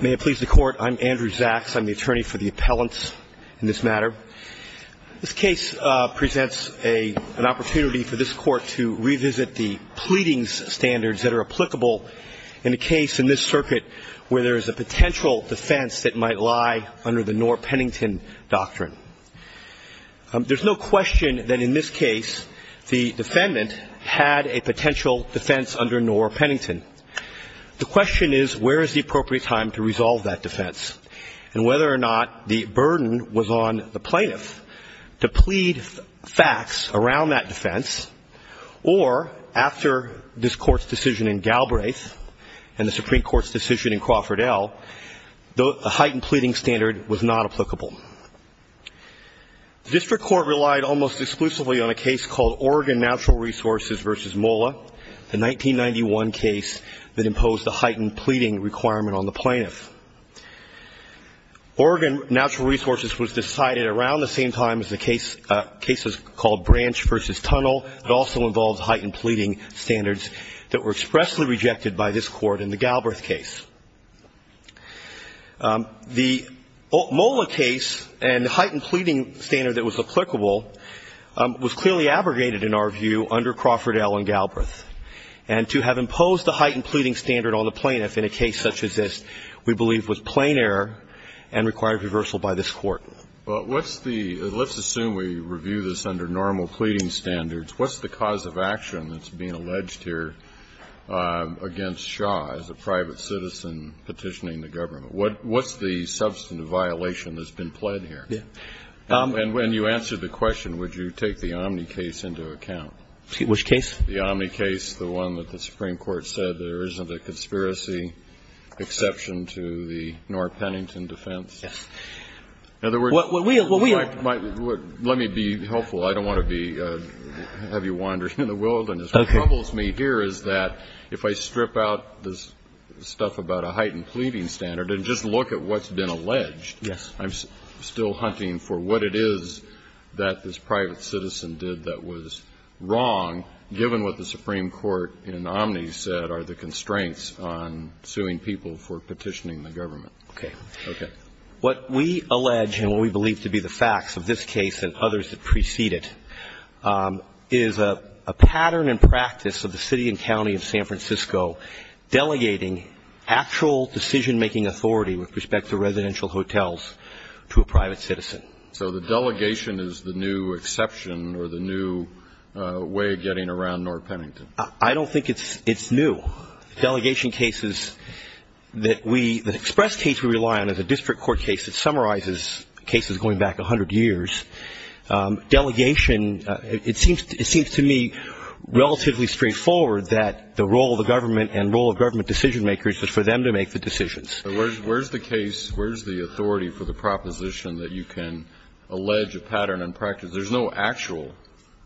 May it please the Court. I'm Andrew Zaks. I'm the attorney for the appellants in this matter. This case presents an opportunity for this Court to revisit the pleadings standards that are applicable in a case in this circuit where there is a potential defense that might lie under the Knorr-Pennington Doctrine. There's no question that in this case the defendant had a potential defense under Knorr-Pennington. The question is where is the appropriate time to resolve that defense and whether or not the burden was on the plaintiff to plead facts around that defense or after this Court's decision in Galbraith and the Supreme Court's decision in Crawford L, the heightened pleading standard was not applicable. The district court relied almost exclusively on a case called Oregon Natural Resources v. MOLA, the 1991 case that imposed a heightened pleading requirement on the plaintiff. Oregon Natural Resources was decided around the same time as the case called Branch v. Tunnel. It also involves heightened pleading standards that were expressly rejected by this Court in the Galbraith case. The MOLA case and the heightened pleading standard that was applicable was clearly abrogated in our view under Crawford L and Galbraith. And to have imposed a heightened pleading standard on the plaintiff in a case such as this we believe was plain error and required reversal by this Court. Well, what's the – let's assume we review this under normal pleading standards. What's the cause of action that's being alleged here against Shaw as a private citizen petitioning the government? What's the substantive violation that's been pled here? Yeah. And when you answer the question, would you take the Omni case into account? Which case? The Omni case, the one that the Supreme Court said there isn't a conspiracy exception to the Knorr-Pennington defense. Yes. In other words – Well, we – Let me be helpful. I don't want to be – have you wandering in the wilderness. Okay. What troubles me here is that if I strip out this stuff about a heightened pleading standard and just look at what's been alleged, I'm still hunting for what it is that this private citizen did that was wrong, given what the Supreme Court in Omni said are the constraints on suing people for petitioning the government. Okay. Okay. What we allege and what we believe to be the facts of this case and others that precede it is a pattern and practice of the city and county of San Francisco delegating actual decision-making authority with respect to residential hotels to a private citizen. So the delegation is the new exception or the new way of getting around Knorr-Pennington? I don't think it's new. Delegation cases that we – the express case we rely on is a district court case that summarizes cases going back 100 years. Delegation – it seems to me relatively straightforward that the role of the government and role of government decision-makers is for them to make the decisions. Where's the case – where's the authority for the proposition that you can allege a pattern and practice? There's no actual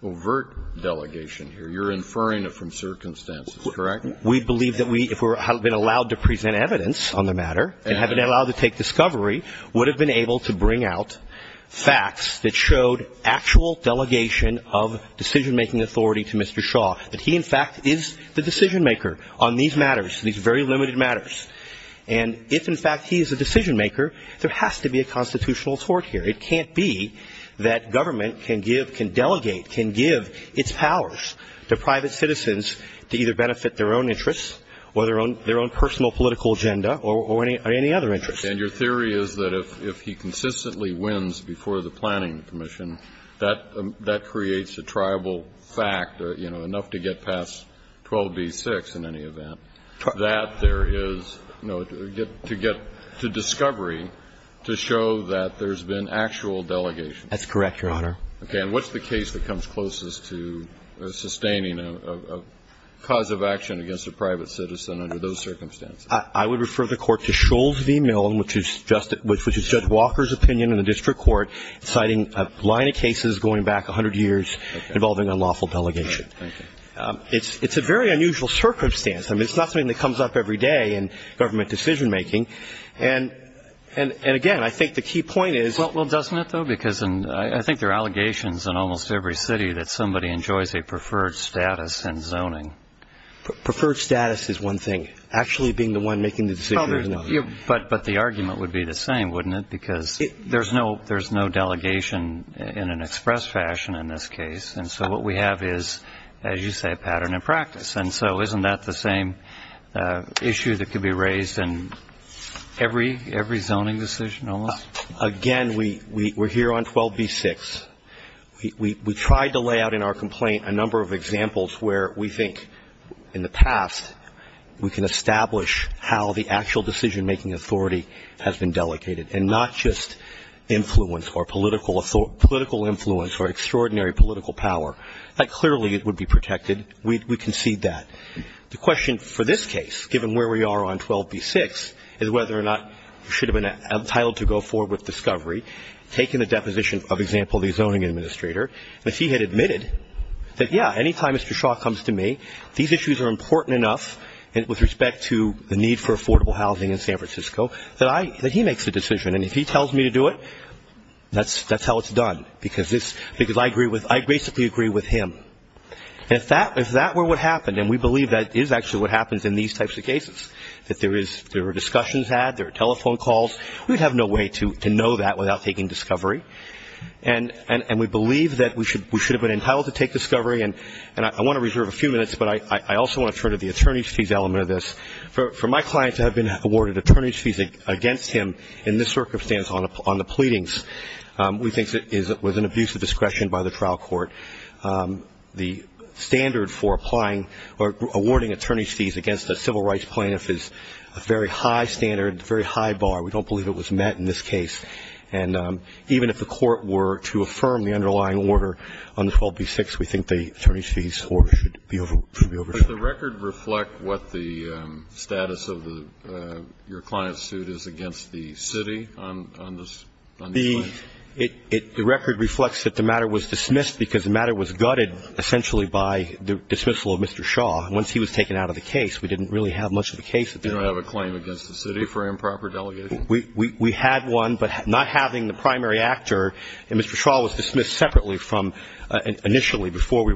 overt delegation here. You're inferring it from circumstances, correct? We believe that we – if we have been allowed to present evidence on the matter and have been allowed to take discovery, would have been able to bring out facts that showed actual delegation of decision-making authority to Mr. Shaw, that he in fact is the decision-maker on these matters, these very limited matters. And if in fact he is a decision-maker, there has to be a constitutional tort here. It can't be that government can give – can delegate, can give its powers to private citizens to either benefit their own interests or their own personal political agenda or any other interests. And your theory is that if he consistently wins before the planning commission, that creates a triable fact, you know, enough to get past 12b-6 in any event, that there is – to get to discovery, to show that there's been actual delegation. That's correct, Your Honor. Okay. And what's the case that comes closest to sustaining a cause of action against a private citizen under those circumstances? I would refer the Court to Scholes v. Milne, which is Judge Walker's opinion in the district court, citing a line of cases going back 100 years involving unlawful delegation. All right. Thank you. It's a very unusual circumstance. I mean, it's not something that comes up every day in government decision-making. And again, I think the key point is – that somebody enjoys a preferred status in zoning. Preferred status is one thing. Actually being the one making the decision is another. But the argument would be the same, wouldn't it? Because there's no delegation in an express fashion in this case. And so what we have is, as you say, a pattern in practice. And so isn't that the same issue that could be raised in every zoning decision almost? Again, we're here on 12b-6. We tried to lay out in our complaint a number of examples where we think, in the past, we can establish how the actual decision-making authority has been delegated, and not just influence or political influence or extraordinary political power. That clearly would be protected. We concede that. The question for this case, given where we are on 12b-6, is whether or not we should have been entitled to go forward with discovery, taking the deposition of, example, the zoning administrator. If he had admitted that, yeah, anytime Mr. Shaw comes to me, these issues are important enough with respect to the need for affordable housing in San Francisco, that he makes the decision. And if he tells me to do it, that's how it's done, because I basically agree with him. And if that were what happened, and we believe that is actually what happens in these types of cases, that there were discussions had, there were telephone calls, we'd have no way to know that without taking discovery. And we believe that we should have been entitled to take discovery. And I want to reserve a few minutes, but I also want to turn to the attorney's fees element of this. For my client to have been awarded attorney's fees against him in this circumstance on the pleadings, we think it was an abuse of discretion by the trial court. The standard for applying or awarding attorney's fees against a civil rights plaintiff is a very high standard, a very high bar. We don't believe it was met in this case. And even if the court were to affirm the underlying order on the 12b-6, we think the attorney's fees order should be overshadowed. The record reflect what the status of your client's suit is against the city on these claims? The record reflects that the matter was dismissed because the matter was gutted essentially by the dismissal of Mr. Shaw. Once he was taken out of the case, we didn't really have much of a case. You don't have a claim against the city for improper delegation? We had one, but not having the primary actor, and Mr. Shaw was dismissed separately from initially before we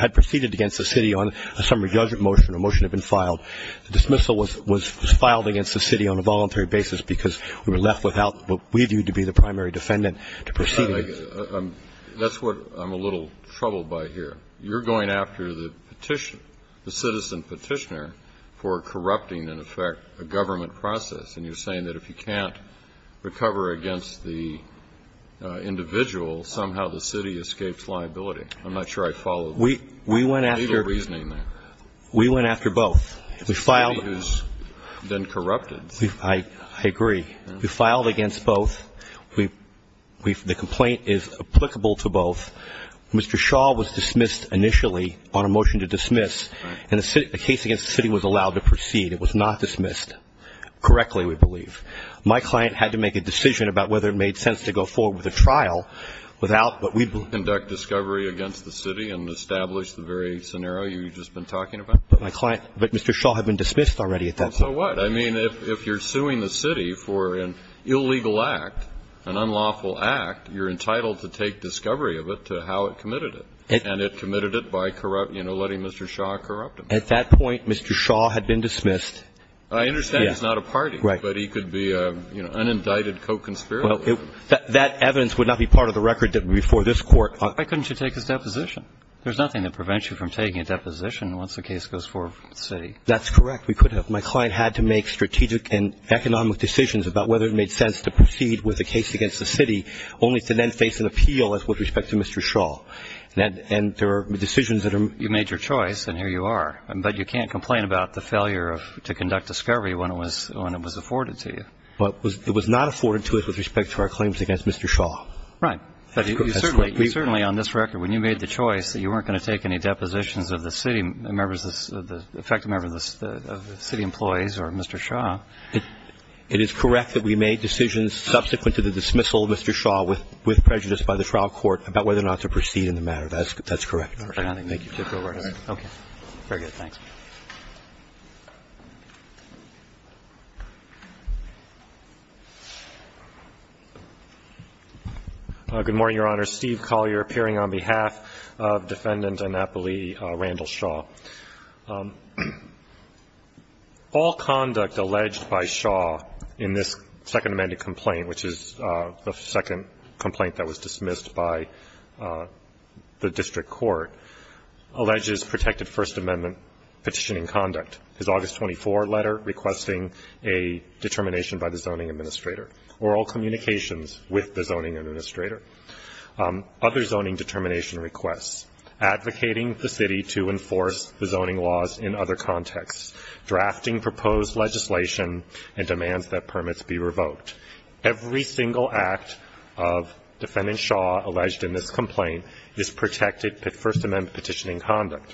had proceeded against the city on a summary judgment motion, a motion had been filed. The dismissal was filed against the city on a voluntary basis because we were left without what we viewed to be the primary defendant to proceed against. That's what I'm a little troubled by here. You're going after the petitioner, the citizen petitioner, for corrupting, in effect, a government process, and you're saying that if you can't recover against the individual, somehow the city escapes liability. I'm not sure I follow the legal reasoning there. We went after both. The city who's been corrupted. I agree. We filed against both. The complaint is applicable to both. Mr. Shaw was dismissed initially on a motion to dismiss, and the case against the city was allowed to proceed. It was not dismissed correctly, we believe. My client had to make a decision about whether it made sense to go forward with a trial without what we believe. Conduct discovery against the city and establish the very scenario you've just been talking about? But my client, but Mr. Shaw had been dismissed already at that point. And so what? I mean, if you're suing the city for an illegal act, an unlawful act, you're entitled to take discovery of it to how it committed it. And it committed it by corrupt, you know, letting Mr. Shaw corrupt him. At that point, Mr. Shaw had been dismissed. I understand he's not a party. Right. But he could be an unindicted co-conspirator. That evidence would not be part of the record before this Court. Why couldn't you take his deposition? There's nothing that prevents you from taking a deposition once the case goes forward with the city. That's correct. We could have. My client had to make strategic and economic decisions about whether it made sense to proceed with a case against the city, only to then face an appeal with respect to Mr. Shaw. And there are decisions that are major choice, and here you are. But you can't complain about the failure to conduct discovery when it was afforded to you. But it was not afforded to us with respect to our claims against Mr. Shaw. Right. But certainly on this record, when you made the choice that you weren't going to take any depositions of the city members, the effective members of the city employees or Mr. Shaw. It is correct that we made decisions subsequent to the dismissal of Mr. Shaw with prejudice by the trial court about whether or not to proceed in the matter. That's correct. Thank you. Okay. Very good. Thanks. Good morning, Your Honor. Steve Collier appearing on behalf of Defendant Annapoli Randall Shaw. All conduct alleged by Shaw in this Second Amended Complaint, which is the second complaint that was dismissed by the district court, alleges protected First Amendment petitioning conduct. His August 24 letter requesting a determination by the zoning administrator. Oral communications with the zoning administrator. Other zoning determination requests. Advocating the city to enforce the zoning laws in other contexts. Drafting proposed legislation and demands that permits be revoked. Every single act of Defendant Shaw alleged in this complaint is protected First Amendment petitioning conduct.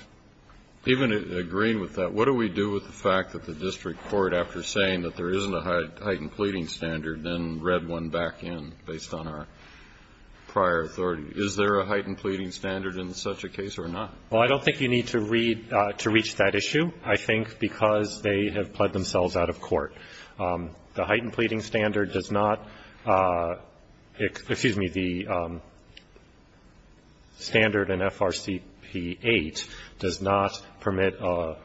Even agreeing with that, what do we do with the fact that the district court, after saying that there isn't a heightened pleading standard, then read one back in based on our prior authority? Is there a heightened pleading standard in such a case or not? Well, I don't think you need to read to reach that issue. I think because they have pled themselves out of court. The heightened pleading standard does not, excuse me, the standard in FRCP8 does not permit a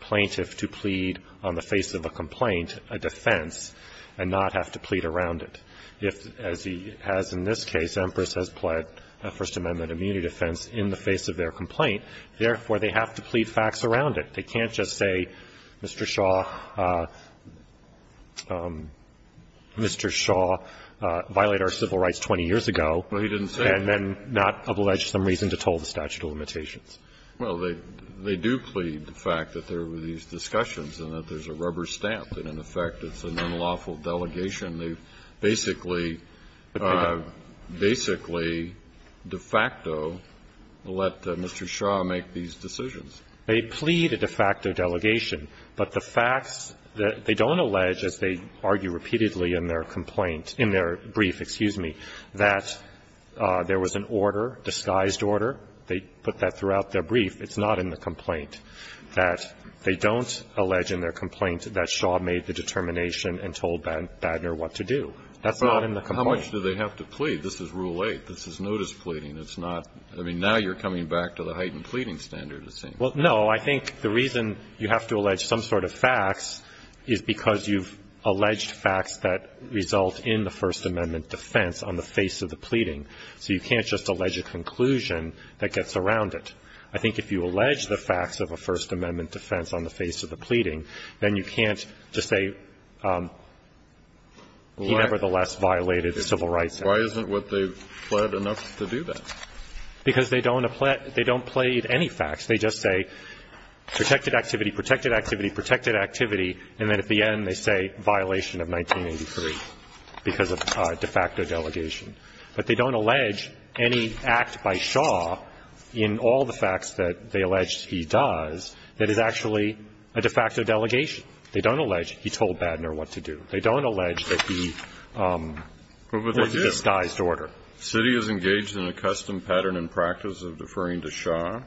plaintiff to plead on the face of a complaint a defense and not have to plead around it. If, as he has in this case, Empress has pled a First Amendment immunity defense in the face of their complaint, therefore they have to plead facts around it. They can't just say, Mr. Shaw, Mr. Shaw violated our civil rights 20 years ago. Well, he didn't say that. And then not allege some reason to toll the statute of limitations. Well, they do plead the fact that there were these discussions and that there's a rubber stamp that in effect it's an unlawful delegation. They basically, basically de facto let Mr. Shaw make these decisions. They plead a de facto delegation, but the facts that they don't allege as they argue repeatedly in their complaint, in their brief, excuse me, that there was an order, disguised order. They put that throughout their brief. It's not in the complaint. That they don't allege in their complaint that Shaw made the determination and told Badner what to do. That's not in the complaint. But how much do they have to plead? This is Rule 8. This is notice pleading. It's not, I mean, now you're coming back to the heightened pleading standard, it seems. Well, no. I think the reason you have to allege some sort of facts is because you've alleged facts that result in the First Amendment defense on the face of the pleading. So you can't just allege a conclusion that gets around it. I think if you allege the facts of a First Amendment defense on the face of the pleading, then you can't just say he nevertheless violated civil rights. Why isn't what they've pled enough to do that? Because they don't plead any facts. They just say protected activity, protected activity, protected activity, and then at the end they say violation of 1983 because of de facto delegation. But they don't allege any act by Shaw in all the facts that they allege he does that is actually a de facto delegation. They don't allege he told Badner what to do. They don't allege that he was a disguised order. The city is engaged in a custom pattern and practice of deferring to Shaw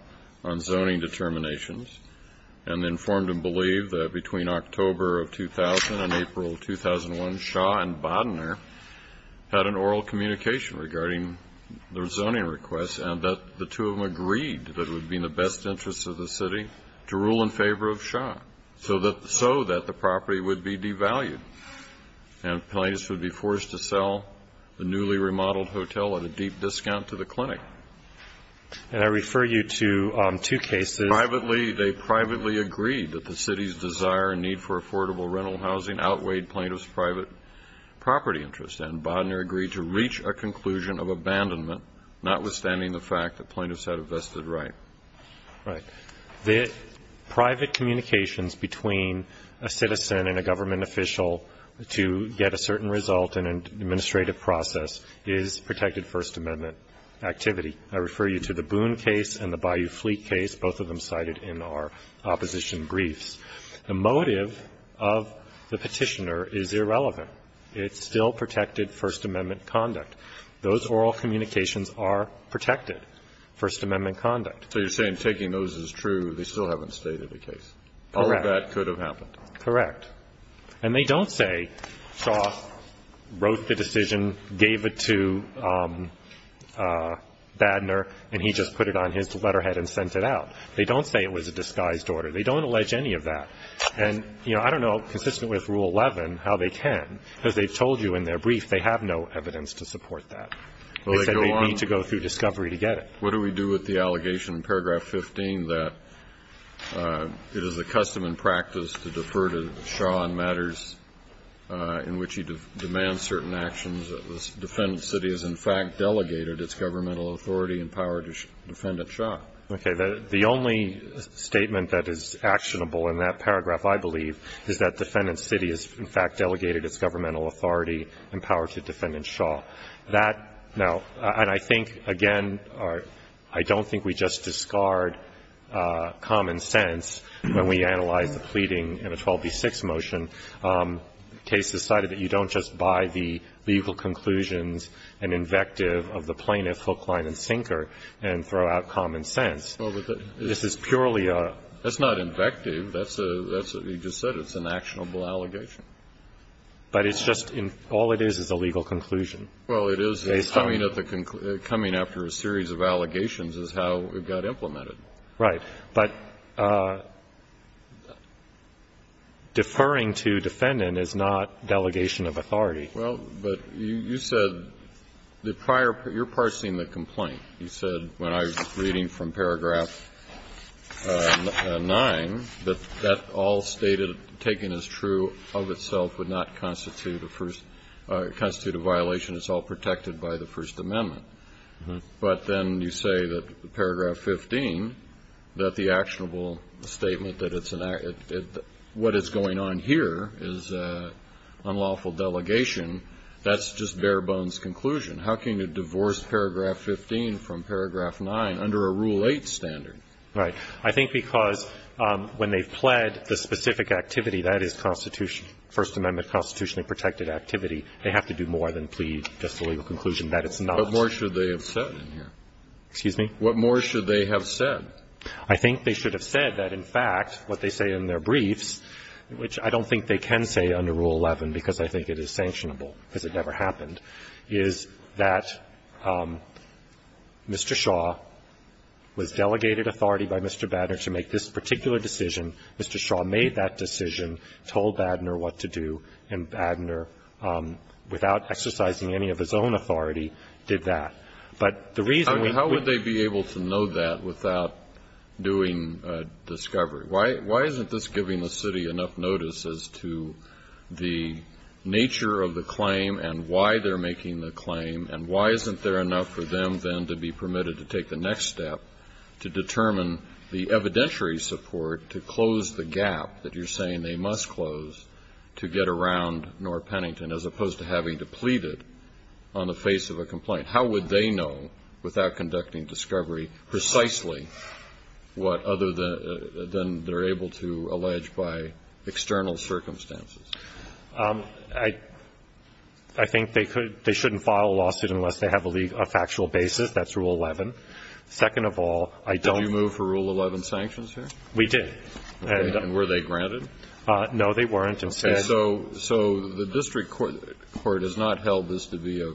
on zoning determinations and informed and believed that between October of 2000 and April of 2001, Shaw and Badner had an oral communication regarding their zoning requests and that the two of them agreed that it would be in the best interests of the city to rule in favor of Shaw so that the property would be devalued and plaintiffs would be forced to hotel at a deep discount to the clinic. And I refer you to two cases. Privately, they privately agreed that the city's desire and need for affordable rental housing outweighed plaintiffs' private property interests. And Badner agreed to reach a conclusion of abandonment, notwithstanding the fact that plaintiffs had a vested right. Right. The private communications between a citizen and a government official to get a certain result in an administrative process is protected First Amendment activity. I refer you to the Boone case and the Bayou Fleet case, both of them cited in our opposition briefs. The motive of the Petitioner is irrelevant. It's still protected First Amendment conduct. Those oral communications are protected First Amendment conduct. So you're saying taking those is true. They still haven't stated the case. Correct. All of that could have happened. Correct. And they don't say Shaw wrote the decision, gave it to Badner, and he just put it on his letterhead and sent it out. They don't say it was a disguised order. They don't allege any of that. And, you know, I don't know, consistent with Rule 11, how they can, because they told you in their brief they have no evidence to support that. They said they'd need to go through discovery to get it. What do we do with the allegation in paragraph 15 that it is the custom and practice to defer to Shaw on matters in which he demands certain actions that the defendant city has, in fact, delegated its governmental authority and power to Defendant Shaw? Okay. The only statement that is actionable in that paragraph, I believe, is that defendant city has, in fact, delegated its governmental authority and power to Defendant Shaw. Now, and I think, again, I don't think we just discard common sense when we analyze the pleading in a 12b-6 motion. The case decided that you don't just buy the legal conclusions and invective of the plaintiff, Hoekline, and Sinker, and throw out common sense. This is purely a ---- That's not invective. That's a ---- you just said it's an actionable allegation. But it's just in ---- all it is is a legal conclusion. Well, it is. Coming at the ---- coming after a series of allegations is how it got implemented. Right. But deferring to Defendant is not delegation of authority. Well, but you said the prior ---- you're parsing the complaint. You said when I was reading from paragraph 9 that that all stated, taken as true of itself would not constitute a first ---- constitute a violation. It's all protected by the First Amendment. But then you say that paragraph 15, that the actionable statement that it's an ---- what is going on here is unlawful delegation. That's just bare bones conclusion. How can you divorce paragraph 15 from paragraph 9 under a Rule 8 standard? Right. I think because when they've pled the specific activity, that is constitution ---- First Amendment constitutionally protected activity, they have to do more than plead just a legal conclusion that it's not. What more should they have said in here? Excuse me? What more should they have said? I think they should have said that, in fact, what they say in their briefs, which I don't think they can say under Rule 11 because I think it is sanctionable because it never happened, is that Mr. Shaw was delegated authority by Mr. Badner to make this particular decision. Mr. Shaw made that decision, told Badner what to do, and Badner, without exercising any of his own authority, did that. But the reason we ---- How would they be able to know that without doing discovery? Why isn't this giving the city enough notice as to the nature of the claim and why they're making the claim, and why isn't there enough for them then to be permitted to take the next step to determine the evidentiary support to close the gap that you're to get around North Pennington as opposed to having to plead it on the face of a complaint? How would they know without conducting discovery precisely what other than they're able to allege by external circumstances? I think they could ---- they shouldn't file a lawsuit unless they have a factual basis. That's Rule 11. Second of all, I don't ---- Did you move for Rule 11 sanctions here? We did. And were they granted? No, they weren't. And so the district court has not held this to be a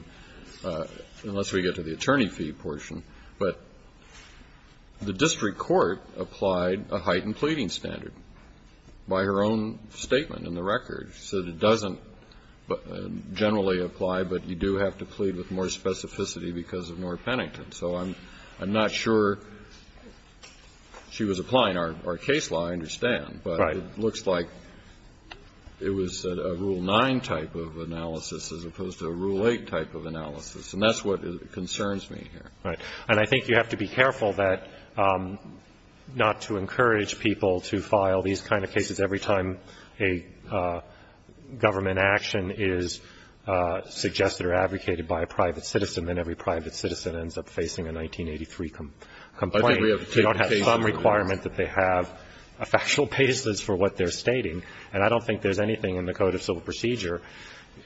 ---- unless we get to the attorney fee portion, but the district court applied a heightened pleading standard by her own statement in the record. She said it doesn't generally apply, but you do have to plead with more specificity because of North Pennington. So I'm not sure she was applying our case law, I understand. Right. But it looks like it was a Rule 9 type of analysis as opposed to a Rule 8 type of analysis, and that's what concerns me here. Right. And I think you have to be careful that not to encourage people to file these kind of cases every time a government action is suggested or advocated by a private citizen ends up facing a 1983 complaint. They don't have some requirement that they have a factual basis for what they're stating, and I don't think there's anything in the Code of Civil Procedure,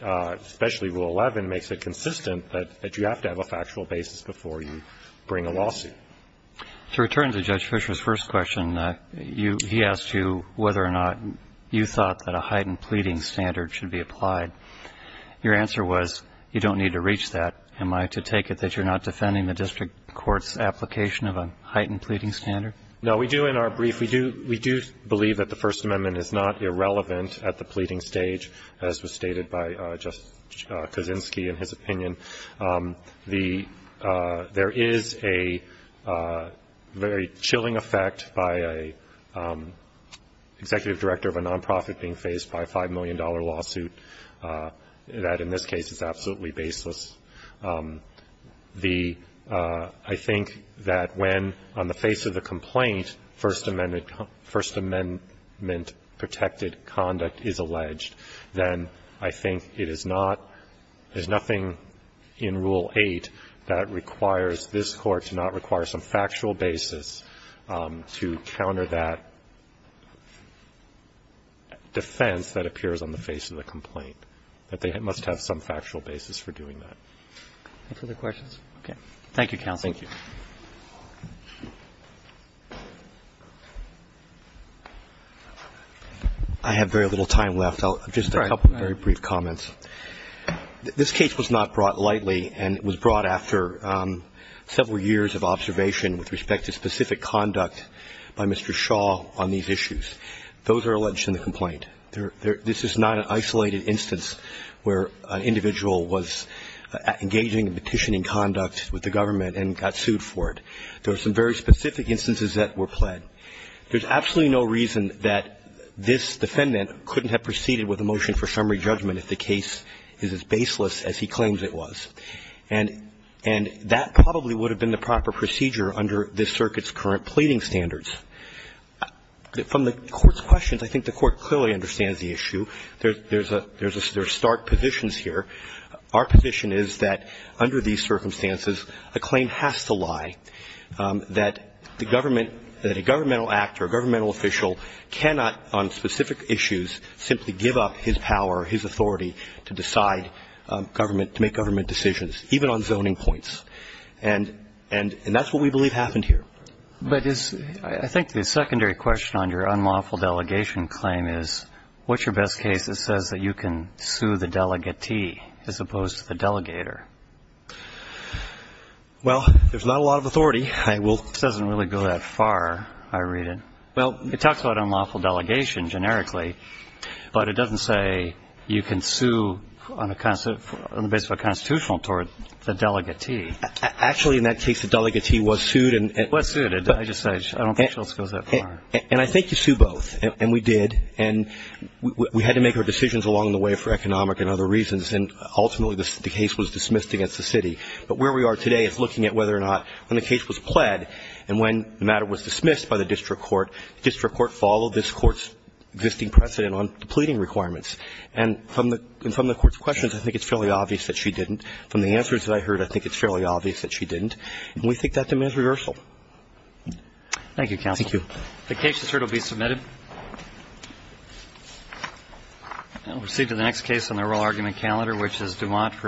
especially Rule 11, makes it consistent that you have to have a factual basis before you bring a lawsuit. To return to Judge Fisher's first question, he asked you whether or not you thought that a heightened pleading standard should be applied. Your answer was you don't need to reach that. Am I to take it that you're not defending the district court's application of a heightened pleading standard? No, we do in our brief. We do believe that the First Amendment is not irrelevant at the pleading stage, as was stated by Justice Kaczynski in his opinion. There is a very chilling effect by an executive director of a nonprofit being faced by a $5 million lawsuit that in this case is absolutely baseless. The ‑‑ I think that when, on the face of the complaint, First Amendment protected conduct is alleged, then I think it is not ‑‑ there's nothing in Rule 8 that requires this Court to not require some factual basis to counter that defense that appears on the face of the complaint, that they must have some factual basis for doing that. Any further questions? Okay. Thank you, counsel. Thank you. I have very little time left. I'll just make a couple of very brief comments. This case was not brought lightly and it was brought after several years of observation Those are alleged in the complaint. This is not an isolated instance where an individual was engaging in petitioning conduct with the government and got sued for it. There were some very specific instances that were pled. There's absolutely no reason that this defendant couldn't have proceeded with a motion for summary judgment if the case is as baseless as he claims it was. And that probably would have been the proper procedure under this circuit's current pleading standards. From the Court's questions, I think the Court clearly understands the issue. There's a ‑‑ there's stark positions here. Our position is that under these circumstances, a claim has to lie, that the government ‑‑ that a governmental act or a governmental official cannot on specific issues simply give up his power or his authority to decide government, to make government decisions, even on zoning points. And that's what we believe happened here. But is ‑‑ I think the secondary question on your unlawful delegation claim is what's your best case that says that you can sue the delegatee as opposed to the delegator? Well, there's not a lot of authority. I will ‑‑ It doesn't really go that far, I read it. Well, it talks about unlawful delegation generically, but it doesn't say you can sue on the basis of a constitutional toward the delegatee. Actually, in that case, the delegatee was sued. Was sued. I just said I don't think it goes that far. And I think you sue both. And we did. And we had to make our decisions along the way for economic and other reasons. And ultimately, the case was dismissed against the city. But where we are today is looking at whether or not when the case was pled and when the matter was dismissed by the district court, the district court followed this court's existing precedent on the pleading requirements. And from the court's questions, I think it's fairly obvious that she didn't. From the answers that I heard, I think it's fairly obvious that she didn't. And we think that demands reversal. Thank you, counsel. Thank you. The case is heard. It will be submitted. We'll proceed to the next case on the oral argument calendar, which is Dumont v. Goodhart.